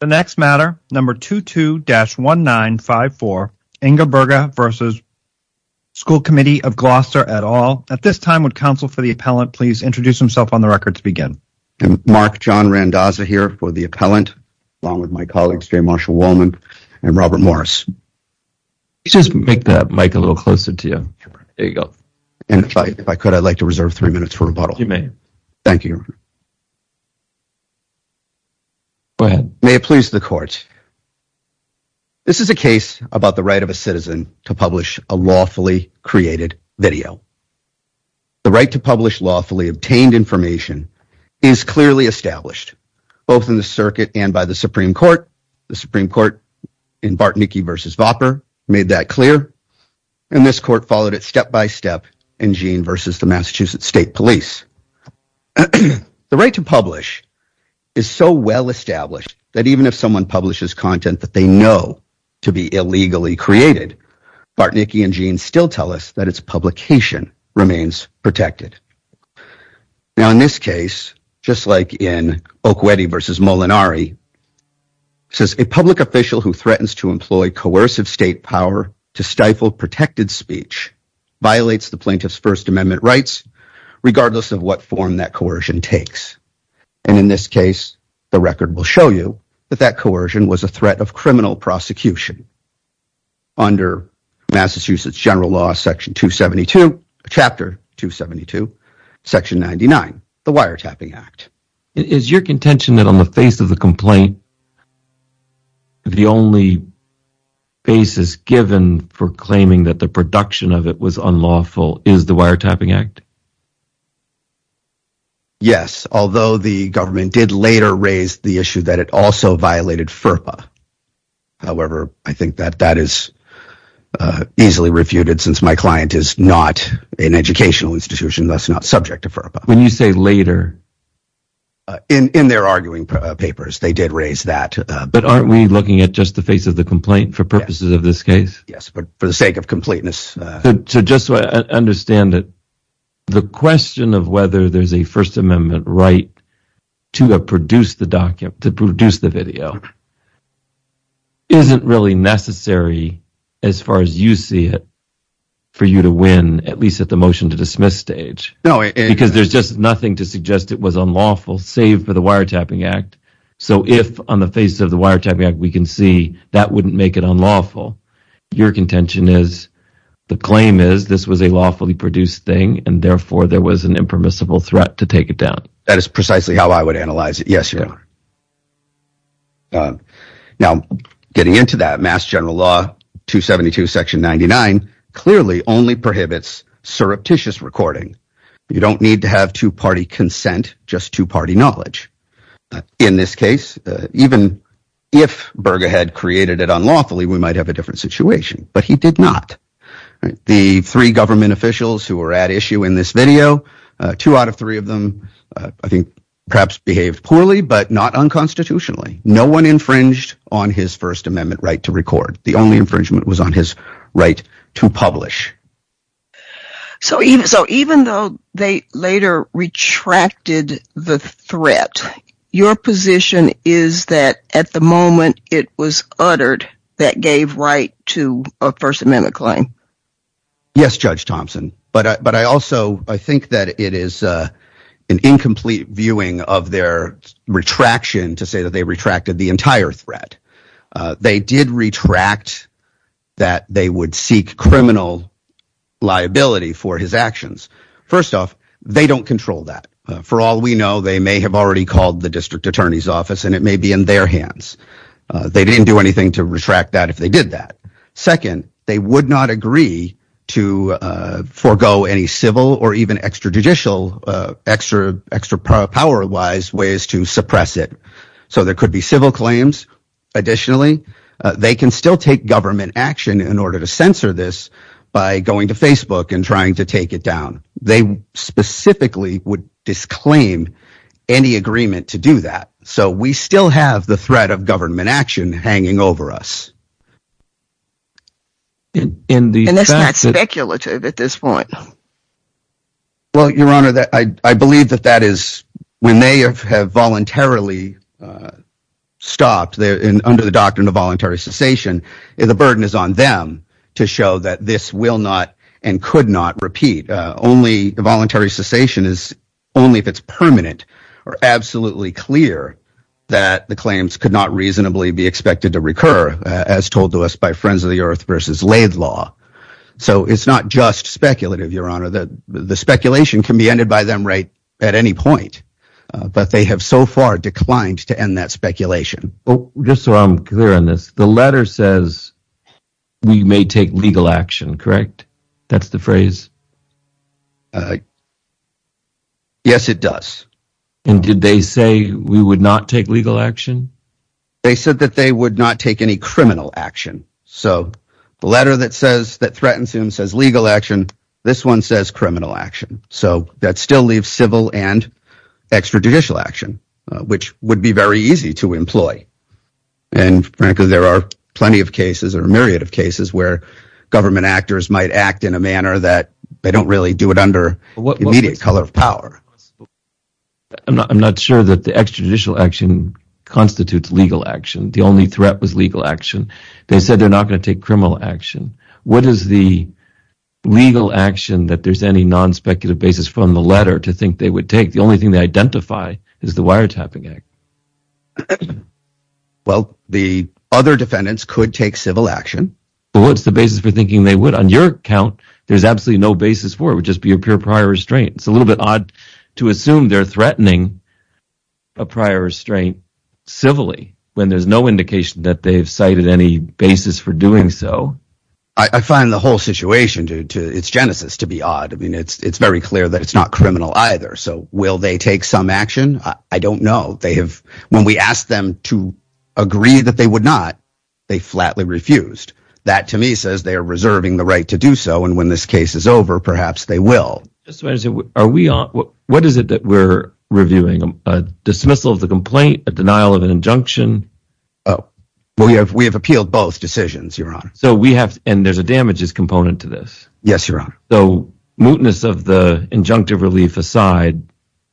The next matter, number 22-1954, Ingeberge v. School Committee of Gloucester et al. At this time, would counsel for the appellant please introduce himself on the record to begin. I'm Mark John Randazza here for the appellant along with my colleagues Jay Marshall-Wollman and Robert Morris. Just make that mic a little closer to you. There you go. And if I could, I'd like to reserve three minutes for rebuttal. You may. Thank you. Go ahead. May it please the court. This is a case about the right of a citizen to publish a lawfully created video. The right to publish lawfully obtained information is clearly established both in the circuit and by the Supreme Court. The Supreme Court in Bartnicki v. Vopper made that clear and this court followed it step-by-step in Jean v. the Massachusetts State Police. The right to establish that even if someone publishes content that they know to be illegally created, Bartnicki and Jean still tell us that its publication remains protected. Now in this case, just like in Okweti v. Molinari, says a public official who threatens to employ coercive state power to stifle protected speech violates the plaintiff's First Amendment rights regardless of what form that coercion takes. And in this case, the record will show you that that coercion was a threat of criminal prosecution under Massachusetts general law section 272 chapter 272 section 99 the Wiretapping Act. Is your contention that on the face of the complaint the only basis given for claiming that the production of it was unlawful is the Wiretapping Act? Yes, although the government did later raise the issue that it also violated FERPA. However, I think that that is easily refuted since my client is not an educational institution that's not subject to FERPA. When you say later? In their arguing papers they did raise that. But aren't we looking at just the face of the complaint for purposes of this case? Yes, but for the sake of completeness. So just so I understand it, the question of whether there's a First Amendment right to produce the document, to produce the video, isn't really necessary as far as you see it for you to win at least at the motion to dismiss stage. No. Because there's just nothing to suggest it was unlawful save for the Wiretapping Act. So if on the face of the Wiretapping Act we can see that wouldn't make it unlawful. Your contention is the claim is this was a lawfully produced thing and therefore there was an impermissible threat to take it down. That is precisely how I would analyze it. Yes, Your Honor. Now getting into that, Mass General Law 272 section 99 clearly only prohibits surreptitious recording. You don't need to have two-party consent, just two-party knowledge. In this case, even if Berger had created it unlawfully, we might have a different situation. But he did not. The three government officials who were at issue in this video, two out of three of them I think perhaps behaved poorly but not unconstitutionally. No one infringed on his First Amendment right to record. The only infringement was on his right to publish. So even though they later retracted the threat, your position is that at the moment it was uttered that gave right to a First Amendment claim? Yes, Judge Thompson, but but I also I think that it is an incomplete viewing of their retraction to say that they retracted the entire threat. They did retract that they would seek criminal liability for his actions. First off, they don't control that. For all we know, they may have already called the district attorney's office and it may be in their hands. They didn't do anything to retract that if they did that. Second, they would not agree to forgo any civil or even extrajudicial extra extra power wise ways to suppress it. So there could be civil claims. Additionally, they can still take government action in order to censor this by going to Facebook and trying to take it down. They specifically would disclaim any agreement to do that. So we still have the threat of government action hanging over us. And that's not speculative at this point. Well, under the doctrine of voluntary cessation, the burden is on them to show that this will not and could not repeat. Only voluntary cessation is only if it's permanent or absolutely clear that the claims could not reasonably be expected to recur as told to us by Friends of the Earth versus Laidlaw. So it's not just speculative, Your Honor. The speculation can be ended by them right at any point, but they have so far declined to end that speculation. Oh, just so I'm clear on this, the letter says we may take legal action, correct? That's the phrase? Yes, it does. And did they say we would not take legal action? They said that they would not take any criminal action. So the letter that says that threatens him says legal action. This one says criminal action. So that still leaves civil and extrajudicial action, which would be very easy to employ. And frankly, there are plenty of cases or a myriad of cases where government actors might act in a manner that they don't really do it under immediate color of power. I'm not sure that the extrajudicial action constitutes legal action. The only threat was legal action. They said they're not going to take criminal action. What is the legal action that there's any non-speculative basis from the letter to think they would take? The only thing they identify is the wiretapping act. Well, the other defendants could take civil action. Well, what's the basis for thinking they would? On your account, there's absolutely no basis for it. It would just be a pure prior restraint. It's a little bit odd to assume they're threatening a prior restraint civilly when there's no indication that they've cited any basis for doing so. I find the whole situation to its genesis to be odd. I mean, it's very clear that it's not criminal either. So will they take some action? I don't know. When we asked them to agree that they would not, they flatly refused. That, to me, says they are reserving the right to do so and when this case is over, perhaps they will. What is it that we're reviewing? A dismissal of the complaint? A denial of an injunction? We have appealed both decisions, Your Honor. And there's a damages component to this? Yes, Your Honor. So, mootness of the injunctive relief aside,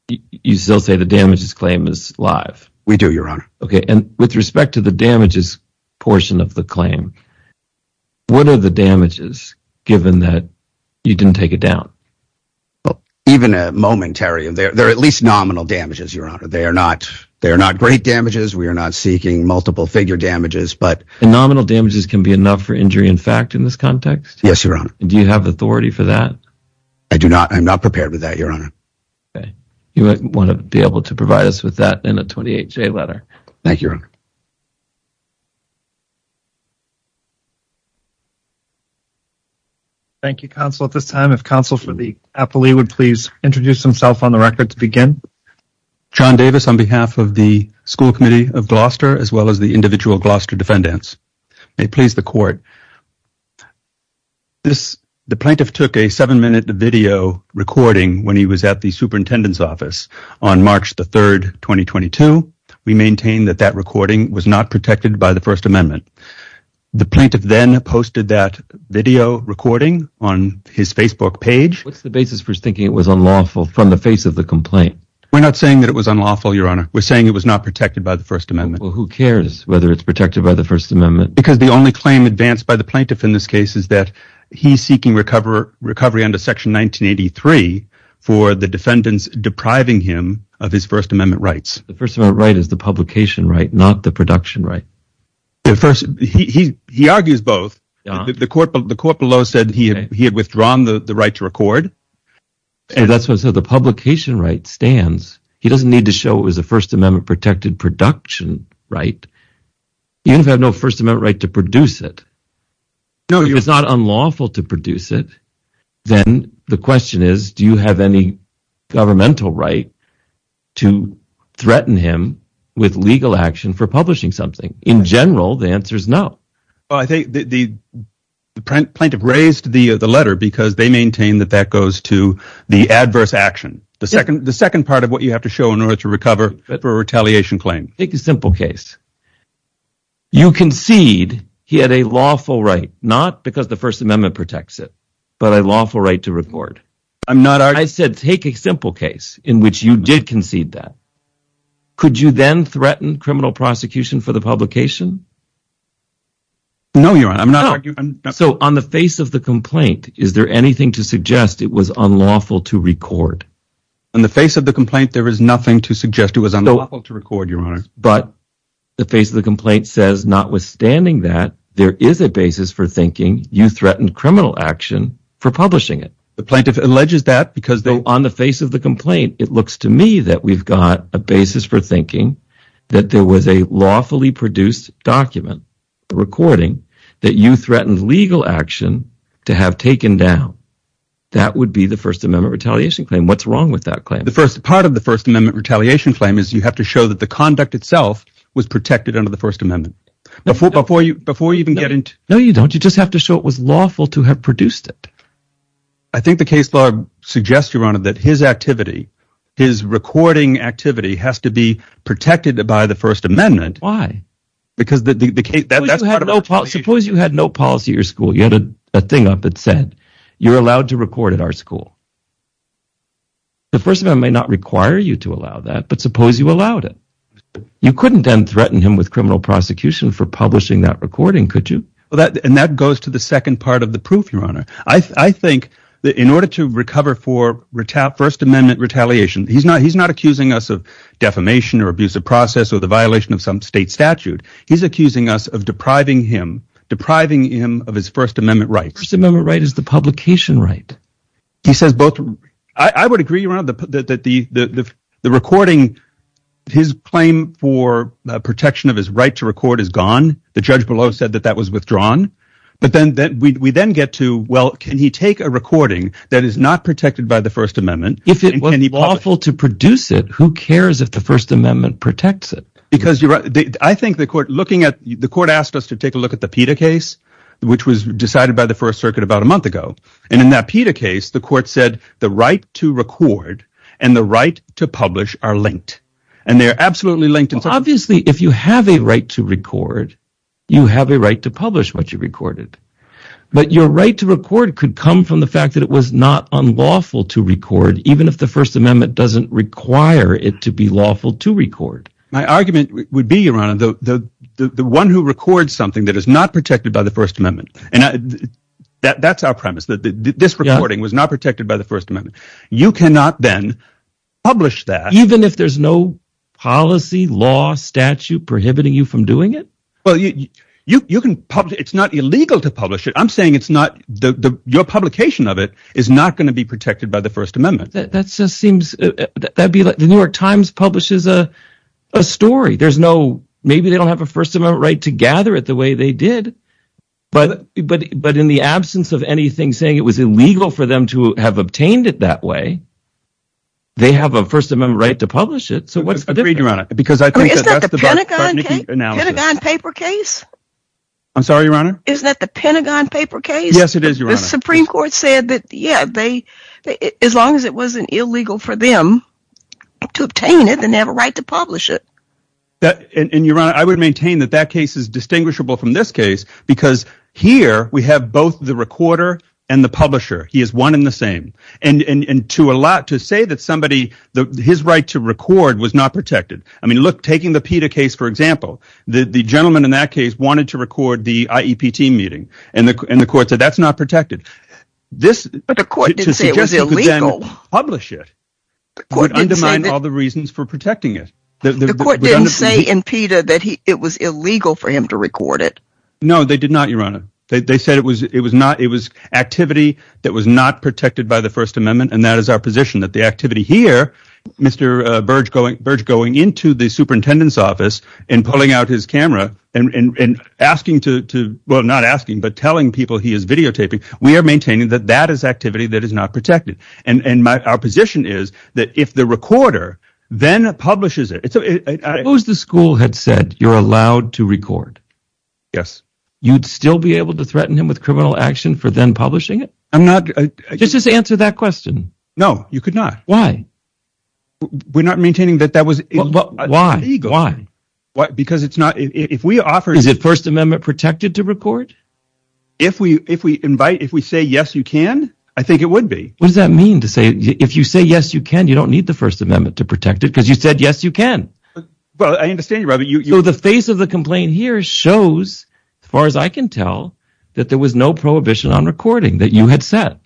you still say the damages claim is live? We do, Your Honor. Okay, and with respect to the damages portion of the claim, what are the damages, given that you didn't take it down? Well, even a momentary. They're at least nominal damages, Your Honor. They are not great damages. We are not seeking multiple-figure damages, but... Nominal damages can be enough for injury in fact in this context? Yes, Your Honor. Do you have authority for that? I do not. I'm not prepared with that, Your Honor. Okay, you might want to be able to provide us with that in a 28-J letter. Thank you, Your Honor. Thank you, counsel. At this time, if counsel for the appellee would please introduce himself on the record to begin. John Davis on behalf of the School Committee of Gloucester, as well as the individual Gloucester defendants. May please the court. The plaintiff took a seven-minute video recording when he was at the superintendent's office on March the 3rd, 2022. We maintain that that recording was not protected by the First Amendment. The plaintiff then posted that video recording on his Facebook page. What's the basis for thinking it was unlawful from the face of the complaint? We're not saying that it was unlawful, Your Honor. We're saying it was not protected by the First Amendment. Well, who cares whether it's protected by the First Amendment? Because the only claim advanced by the plaintiff in this case is that he's seeking recovery under Section 1983 for the defendants depriving him of his First Amendment rights. The First Amendment right is the publication right, not the production right. First, he argues both. The court below said he had withdrawn the right to record. So the publication right stands. He doesn't need to show it was a First Amendment protected production right. You have no First Amendment right to produce it. If it's not unlawful to produce it, then the question is, do you have any governmental right to threaten him with legal action for publishing something? In general, the answer is no. I think the plaintiff raised the letter because they maintain that that goes to the adverse action. The second part of what you have to show in order to recover for a retaliation claim. Take a simple case. You concede he had a lawful right, not because the First Amendment protects it, but a lawful right to record. I'm not arguing. I said take a simple case in which you did concede that. Could you then threaten criminal prosecution for the publication? No, Your Honor. I'm not arguing. So on the face of the complaint, is there anything to suggest it was unlawful to record, Your Honor? But the face of the complaint says, notwithstanding that, there is a basis for thinking you threatened criminal action for publishing it. The plaintiff alleges that because they... On the face of the complaint, it looks to me that we've got a basis for thinking that there was a lawfully produced document recording that you threatened legal action to have taken down. That would be the First Amendment retaliation claim. What's wrong with that claim? The first part of the First Amendment retaliation claim is you have to show that the conduct itself was protected under the First Amendment. Before you even get into... No, you don't. You just have to show it was lawful to have produced it. I think the case law suggests, Your Honor, that his activity, his recording activity, has to be protected by the First Amendment. Why? Because the case... Suppose you had no policy at your school. You had a thing up said, you're allowed to record at our school. The First Amendment may not require you to allow that, but suppose you allowed it. You couldn't then threaten him with criminal prosecution for publishing that recording, could you? And that goes to the second part of the proof, Your Honor. I think that in order to recover for First Amendment retaliation, he's not accusing us of defamation or abusive process or the violation of some state statute. He's accusing us of depriving him of his First Amendment rights. First Amendment right is the publication right. He says both... I would agree, Your Honor, that the recording, his claim for protection of his right to record is gone. The judge below said that that was withdrawn. But then we then get to, well, can he take a recording that is not protected by the First Amendment? If it was lawful to produce it, who cares if the First Amendment protects it? Because I think the court asked us to take a look at the PETA case, which was decided by the First Circuit about a month ago. And in that PETA case, the court said the right to record and the right to publish are linked. And they're absolutely linked. Obviously, if you have a right to record, you have a right to publish what you recorded. But your right to record could come from the fact that it was not unlawful to record, even if the First Amendment doesn't require it to be lawful to record. My argument would be, Your Honor, the one who records something that is not protected by the First Amendment. And that's our premise, that this recording was not protected by the First Amendment. You cannot then publish that... Even if there's no policy, law, statute prohibiting you from doing it? Well, you can publish... It's not illegal to publish it. I'm saying it's not... Your publication of it is not going to be protected by the First Amendment. That just seems... That'd be like... The New York Times publishes a story. There's no... Maybe they don't have a First Amendment right to gather it the way they did. But in the absence of anything saying it was illegal for them to have obtained it that way, they have a First Amendment right to publish it. So what's the difference? Agreed, Your Honor. Because I think that that's the... I mean, isn't that the Pentagon paper case? I'm sorry, Your Honor? Isn't that the Pentagon paper case? Yes, it is, Your Honor. The Supreme Court said that, yeah, as long as it wasn't illegal for them to obtain it, then they have a right to publish it. And, Your Honor, I would maintain that that case is distinguishable from this case because here we have both the recorder and the publisher. He is one and the same. And to say that somebody... His right to record was not protected. I mean, look, taking the PETA case, for example. The gentleman in that case wanted to record the IEP team meeting, and the court said that's not protected. But the court didn't say it was illegal. To suggest that you could then publish it would undermine all the reasons for protecting it. The court didn't say in PETA that it was illegal for him to record it. No, they did not, Your Honor. They said it was activity that was not protected by the First Amendment, and that is our position, that the activity here, Mr. Burge going into the superintendent's office and pulling out his camera and asking to... Well, not asking, but telling people he is videotaping. We are maintaining that that is activity that is not protected. And our position is that if the recorder then publishes it... Suppose the school had said you're allowed to record. Yes. You'd still be able to threaten him with criminal action for then publishing it? I'm not... Just answer that question. No, you could not. Why? We're not maintaining that that was illegal. Why? Because it's not... If we offer... If we invite, if we say, yes, you can, I think it would be. What does that mean to say, if you say, yes, you can, you don't need the First Amendment to protect it because you said, yes, you can. Well, I understand, but you... So the face of the complaint here shows, as far as I can tell, that there was no prohibition on recording that you had set.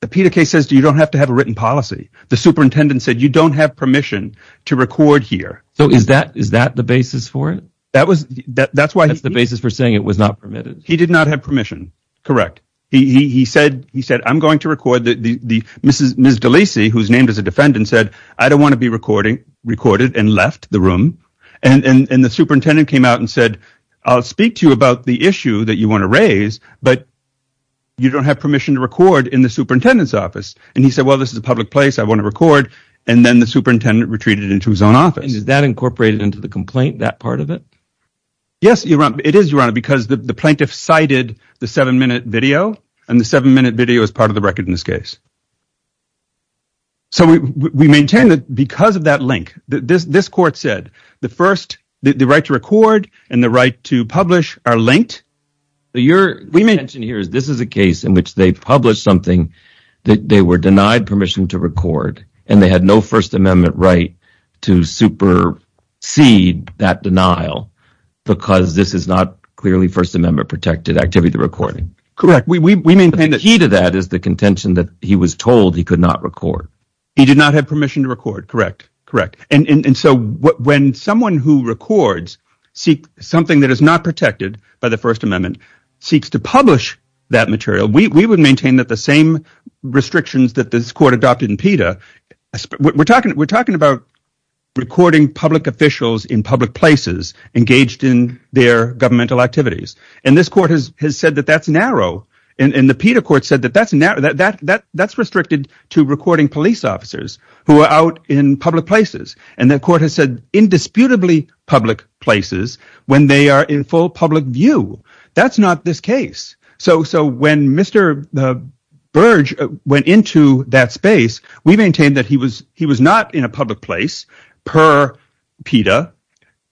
The PETA case says you don't have to have a written policy. The superintendent said you don't have permission to record here. So is that the basis for it? That was... That's why... For saying it was not permitted. He did not have permission. Correct. He said, he said, I'm going to record the Mrs. Delisi, who's named as a defendant, said, I don't want to be recording, recorded and left the room. And the superintendent came out and said, I'll speak to you about the issue that you want to raise, but you don't have permission to record in the superintendent's office. And he said, well, this is a public place. I want to record. And then the superintendent retreated into his own office. Is that incorporated into the complaint, that part of it? Yes, Your Honor. It is, Your Honor, because the plaintiff cited the seven-minute video and the seven-minute video is part of the record in this case. So we maintain that because of that link, this court said, the first, the right to record and the right to publish are linked. Your intention here is this is a case in which they published something that they were denied permission to record and they had no First Amendment right to supersede that denial. Because this is not clearly First Amendment-protected activity, the recording. Correct. We maintain the key to that is the contention that he was told he could not record. He did not have permission to record. Correct. Correct. And so when someone who records something that is not protected by the First Amendment seeks to publish that material, we would maintain that the same restrictions that this court adopted in PETA, we're talking about recording public officials in public places engaged in their governmental activities. And this court has said that that's narrow. And the PETA court said that that's narrow, that's restricted to recording police officers who are out in public places. And the court has said indisputably public places when they are in full public view. That's not this case. So when Mr. Burge went into that space, we maintain that he was not in a public place per PETA.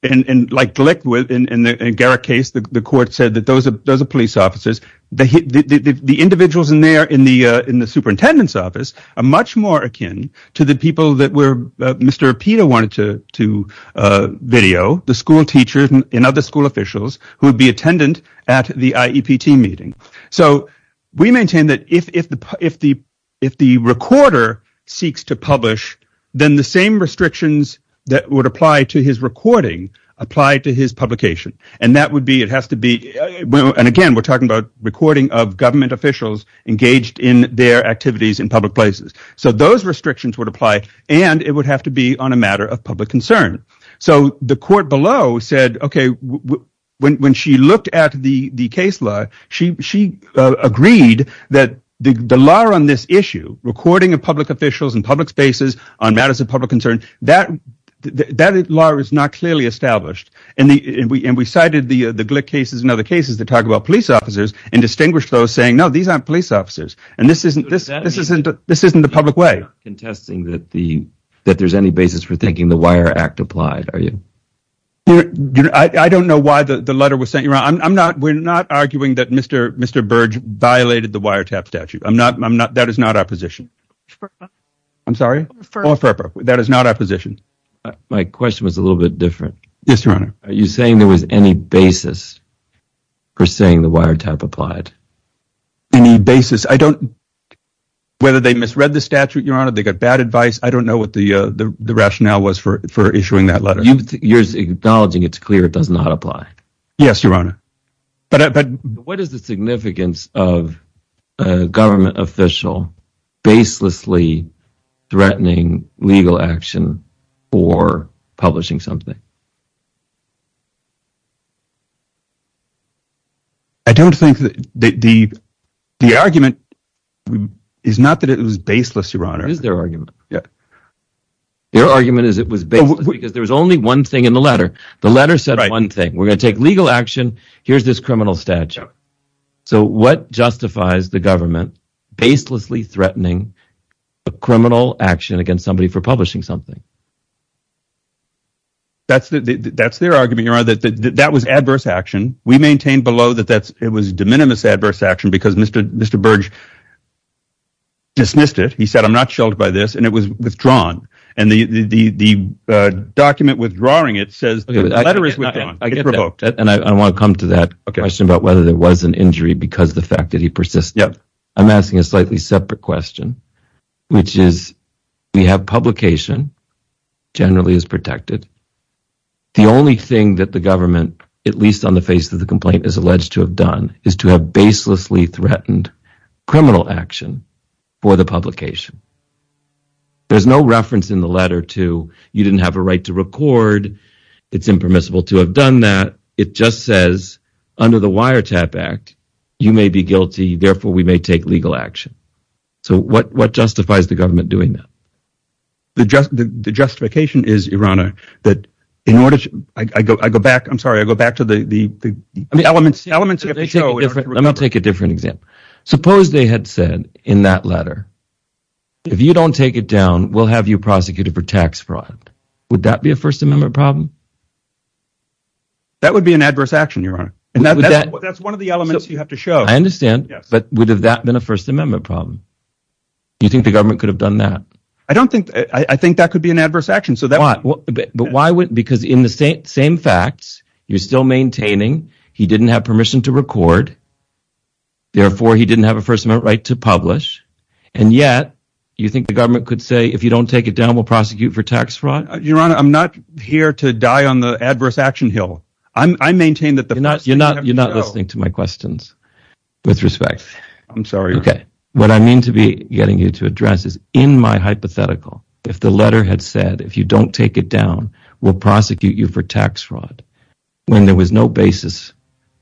And like Glick, in the Garrett case, the court said that those are police officers. The individuals in there in the superintendent's office are much more akin to the people that Mr. PETA wanted to video, the school teachers and other school officials who would be attendant at the IEPT meeting. So we maintain that if the recorder seeks to publish, then the same restrictions that would apply to his recording apply to his publication. And that would be, it has to be, and again, we're talking about recording of government officials engaged in their activities in public places. So those restrictions would apply, and it would have to be on a matter of public concern. So the court below said, okay, when she looked at the case law, she agreed that the law on this issue, recording of public officials in public spaces on matters of public concern, that law is not clearly established. And we cited the Glick cases and other cases that talk about police officers and distinguished those saying, no, these aren't police officers. And this isn't the public way. Contesting that there's any basis for thinking the Wire Act applied, are you? I don't know why the letter was sent. We're not arguing that Mr. Burge violated the wiretap statute. That is not our position. I'm sorry? That is not our position. My question was a little bit different. Yes, Your Honor. Are you saying there was any basis for saying the wiretap applied? Any basis? I don't know whether they misread the statute, Your Honor. They got bad advice. I don't know what the rationale was for issuing that letter. You're acknowledging it's clear it does not apply. Yes, Your Honor. What is the significance of a government official baselessly threatening legal action for publishing something? I don't think that the argument is not that it was baseless, Your Honor. It is their argument. Yeah. Their argument is it was baseless because there was only one thing in the letter. The letter said one thing. We're going to take legal action. Here's this criminal statute. So what justifies the government baselessly threatening a criminal action against somebody for publishing something? That's a good question. That's their argument, Your Honor, that that was adverse action. We maintain below that it was de minimis adverse action because Mr. Burge dismissed it. He said, I'm not sheltered by this. And it was withdrawn. And the document withdrawing it says the letter is withdrawn. I get that. And I want to come to that question about whether there was an injury because of the fact that he persisted. I'm asking a slightly separate question, which is we have publication generally is protected. The only thing that the government, at least on the face of the complaint, is alleged to have done is to have baselessly threatened criminal action for the publication. There's no reference in the letter to you didn't have a right to record. It's impermissible to have done that. It just says under the Wiretap Act, you may be guilty. Therefore, we may take legal action. So what justifies the government doing that? The justification is, your honor, that in order to I go back. I'm sorry. I go back to the elements elements. Let me take a different example. Suppose they had said in that letter, if you don't take it down, we'll have you prosecuted for tax fraud. Would that be a First Amendment problem? That would be an adverse action, your honor. And that's one of the elements you have to show. I understand. But would have that been a First Amendment problem? You think the government could have done that? I don't think I think that could be an adverse action. So that but why? Because in the same facts, you're still maintaining he didn't have permission to record. Therefore, he didn't have a First Amendment right to publish. And yet you think the government could say, if you don't take it down, we'll prosecute for tax fraud, your honor. I'm not here to die on the adverse action hill. I maintain that you're not you're not listening to my questions with respect. I'm sorry. What I mean to be getting you to address is in my hypothetical, if the letter had said, if you don't take it down, we'll prosecute you for tax fraud. When there was no basis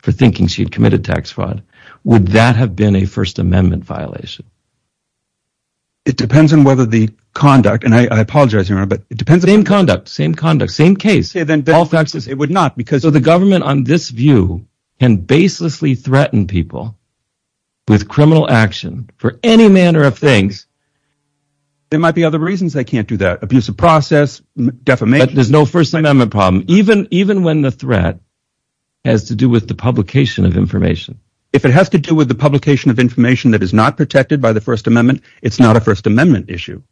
for thinking she'd committed tax fraud. Would that have been a First Amendment violation? It depends on whether the conduct and I apologize, your honor, but it depends on conduct, same conduct, same case, then all faxes. It would not because of the government on this view and baselessly threaten people. With criminal action for any manner of things. There might be other reasons they can't do that. Abuse of process defamation. There's no First Amendment problem, even even when the threat. Has to do with the publication of information. If it has to do with the publication of information that is not protected by the First Amendment, it's not a First Amendment issue.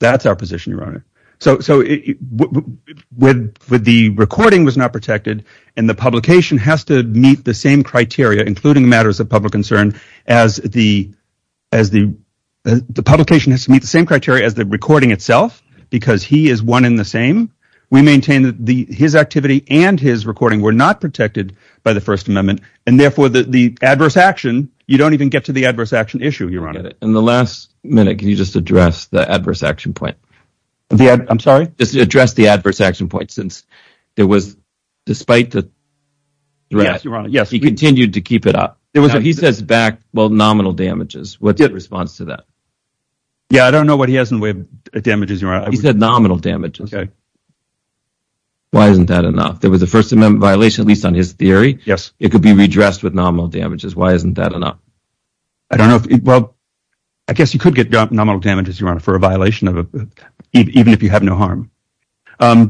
That's our position, your honor. So so with with the recording was not protected and the publication has to meet the same criteria, including matters of public concern. As the as the publication has to meet the same criteria as the recording itself, because he is one in the same. We maintain that his activity and his recording were not protected by the First Amendment. And therefore, the adverse action, you don't even get to the adverse action issue, your honor. In the last minute, can you just address the adverse action point? I'm sorry, just address the adverse action point since there was despite the. Yes, your honor. Yes, we continue to keep it up. It was he says back. Well, nominal damages. What's your response to that? Yeah, I don't know what he has in way of damages. He said nominal damages. Why isn't that enough? There was a First Amendment violation, at least on his theory. Yes, it could be redressed with nominal damages. Why isn't that enough? I don't know. Well, I guess you could get nominal damages, your honor, for a violation of it, even if you have no harm.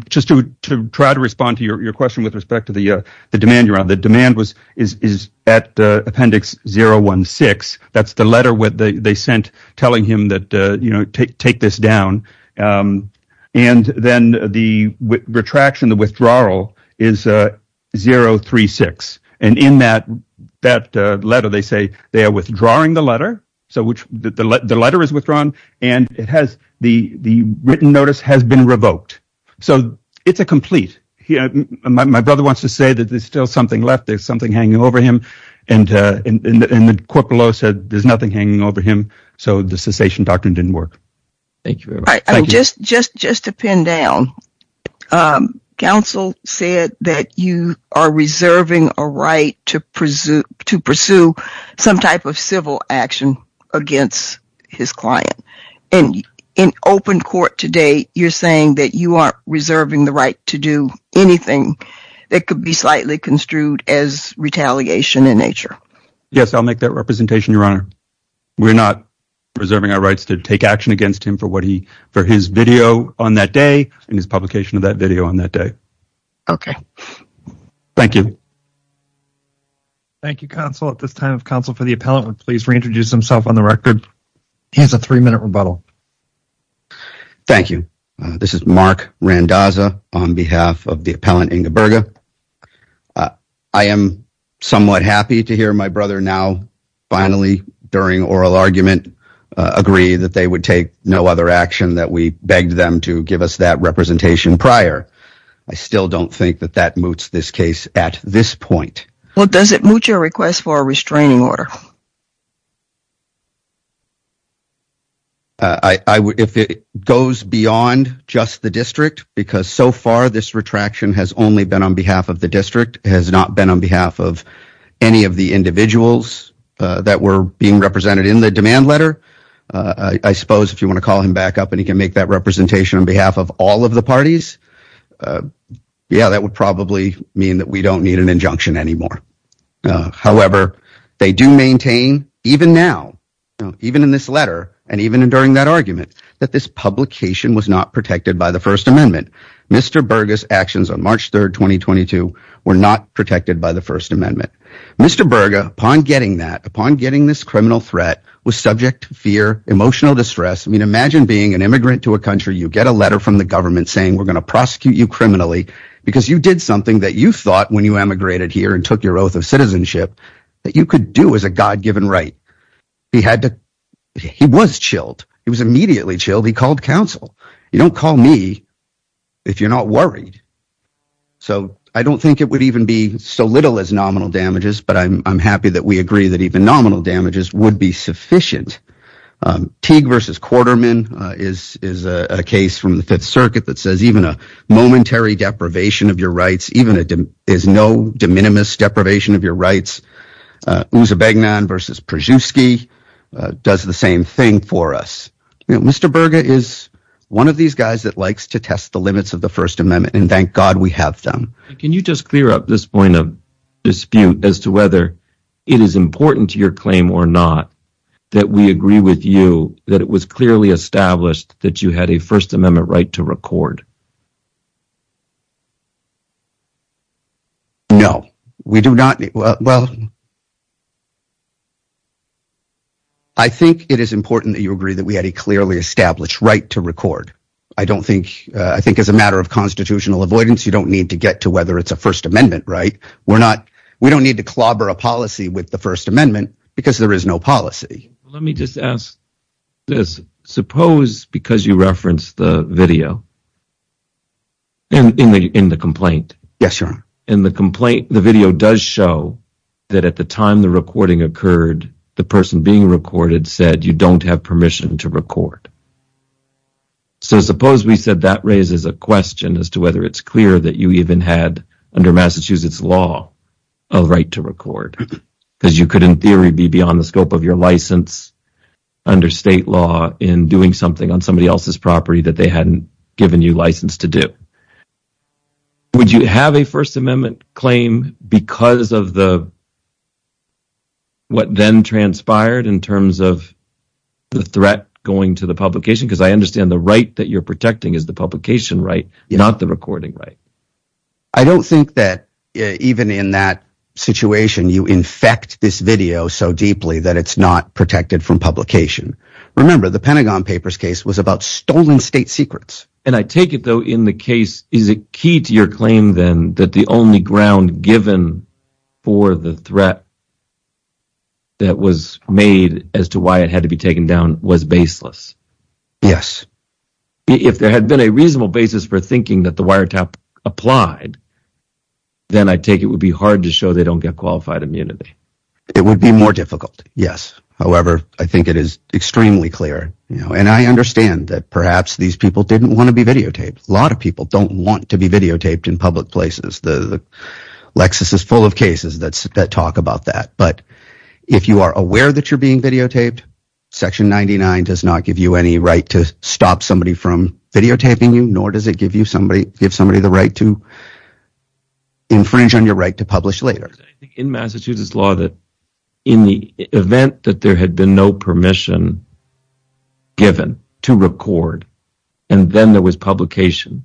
Just to try to respond to your question with respect to the demand, your honor, the demand was is at Appendix 016. That's the letter they sent telling him that, you know, take this down. And then the retraction, the withdrawal is 036. And in that letter, they say they are withdrawing the letter. So which the letter is withdrawn and it has the written notice has been revoked. So it's a complete. My brother wants to say that there's still something left. There's something hanging over him. And the court below said there's nothing hanging over him. So the cessation doctrine didn't work. Thank you very much. All right, just to pin down. The counsel said that you are reserving a right to pursue some type of civil action against his client. And in open court today, you're saying that you are reserving the right to do anything that could be slightly construed as retaliation in nature. Yes, I'll make that representation, your honor. We're not reserving our rights to take action against him for what he for his video on that day and his publication of that video on that day. OK, thank you. Thank you, counsel, at this time of counsel for the appellant, would please reintroduce himself on the record. He has a three minute rebuttal. Thank you. This is Mark Randazza on behalf of the appellant Ingeberga. I am somewhat happy to hear my brother now. Finally, during oral argument, agree that they would take no other action that we begged them to give us that representation prior. I still don't think that that moots this case at this point. Well, does it moot your request for a restraining order? If it goes beyond just the district, because so far this retraction has only been on behalf of the district, has not been on behalf of any of the individuals that were being represented in the demand letter, I suppose if you want to call him back up and he can make that representation on behalf of all of the parties. Yeah, that would probably mean that we don't need an injunction anymore. However, they do maintain even now, even in this letter and even during that argument that this publication was not protected by the First Amendment. Mr. Burgess actions on March 3rd, 2022 were not protected by the First Amendment. Mr. Berger, upon getting that upon getting this criminal threat was subject to fear, emotional distress. I mean, imagine being an immigrant to a country. You get a letter from the government saying we're going to prosecute you criminally because you did something that you thought when you emigrated here and took your oath of citizenship that you could do as a God given right. He had to he was chilled. He was immediately chilled. He called counsel. You don't call me if you're not worried. So I don't think it would even be so little as nominal damages, but I'm happy that we agree that even nominal damages would be sufficient. Teague versus Quarterman is is a case from the Fifth Circuit that says even a momentary deprivation of your rights, even it is no de minimis deprivation of your rights. Who's a big man versus Przewski does the same thing for us. Mr. Berger is one of these guys that likes to test the limits of the First Amendment and thank God we have them. Can you just clear up this point of dispute as to whether it is important to your claim or not that we agree with you that it was clearly established that you had a First Amendment right to record? No, we do not. Well. I think it is important that you agree that we had a clearly established right to record. I don't think I think as a matter of constitutional avoidance, you don't need to get to whether it's a First Amendment, right? We're not we don't need to clobber a policy with the First Amendment because there is no policy. Let me just ask this. Suppose because you reference the video. And in the in the complaint. Yes, sir. In the complaint, the video does show that at the time the recording occurred, the person being recorded said you don't have permission to record. So suppose we said that raises a question as to whether it's clear that you even had under Massachusetts law a right to record because you could, in theory, be beyond the scope of your license under state law in doing something on somebody else's property that they hadn't given you license to do. Would you have a First Amendment claim because of the. What then transpired in terms of the threat going to the publication, because I understand the right that you're protecting is the publication, right? Not the recording, right? I don't think that even in that situation, you infect this video so deeply that it's not protected from publication. Remember, the Pentagon Papers case was about stolen state secrets. And I take it, though, in the case is a key to your claim, then that the only ground given for the threat. That was made as to why it had to be taken down was baseless. Yes. If there had been a reasonable basis for thinking that the wiretap applied. Then I take it would be hard to show they don't get qualified immunity. It would be more difficult. Yes. However, I think it is extremely clear, you know, and I understand that perhaps these people didn't want to be videotaped. A lot of people don't want to be videotaped in public places. The Lexus is full of cases that talk about that. But if you are aware that you're being videotaped, Section 99 does not give you any right to stop somebody from videotaping you, nor does it give you somebody, give somebody the right to infringe on your right to publish later. In Massachusetts law that in the event that there had been no permission. Given to record and then there was publication.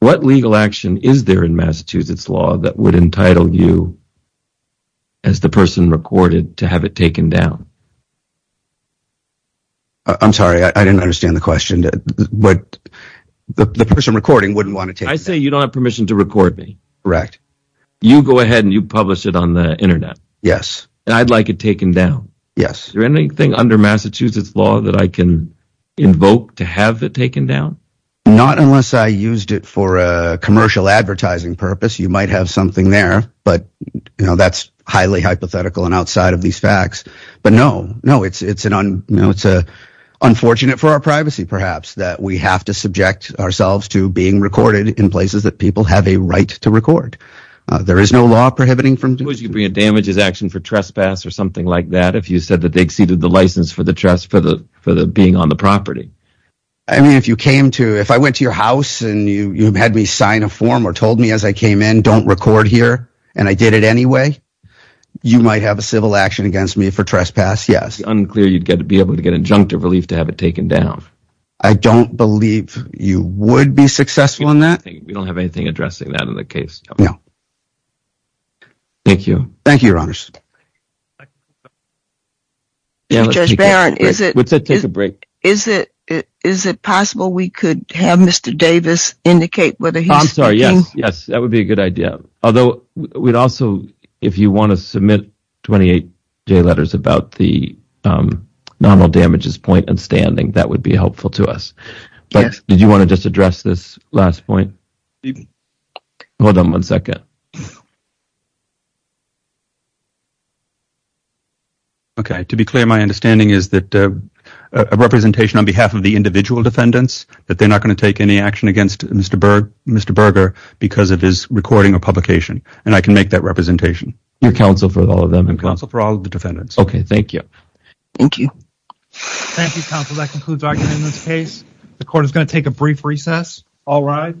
What legal action is there in Massachusetts law that would entitle you? As the person recorded to have it taken down. I'm sorry, I didn't understand the question, but the person recording wouldn't want to take. I say you don't have permission to record me. You go ahead and you publish it on the Internet. Yes. And I'd like it taken down. Yes. Is there anything under Massachusetts law that I can invoke to have it taken down? Not unless I used it for a commercial advertising purpose. You might have something there, but that's highly hypothetical and outside of these facts. But no, no, it's an unfortunate for our privacy, perhaps that we have to subject ourselves to being recorded in places that people have a right to record. There is no law prohibiting from. Would you bring a damages action for trespass or something like that? If you said that they exceeded the license for the trust for the for the being on the property. I mean, if you came to if I went to your house and you had me sign a form or told me as I came in, don't record here and I did it anyway, you might have a civil action against me for trespass. Yes. Unclear, you'd get to be able to get injunctive relief to have it taken down. I don't believe you would be successful in that. We don't have anything addressing that in the case. No. Thank you. Thank you, Your Honor. Judge Barron, is it take a break? Is it is it possible we could have Mr. Davis indicate whether he's sorry? Yes, yes, that would be a good idea. Although we'd also if you want to submit 28 letters about the nominal damages point and that would be helpful to us. But did you want to just address this last point? Hold on one second. OK, to be clear, my understanding is that a representation on behalf of the individual defendants that they're not going to take any action against Mr. Mr. Berger because of his recording or publication. And I can make that representation. Your counsel for all of them and counsel for all of the defendants. OK, thank you. Thank you. Thank you, counsel. That concludes our case. The court is going to take a brief recess. All right.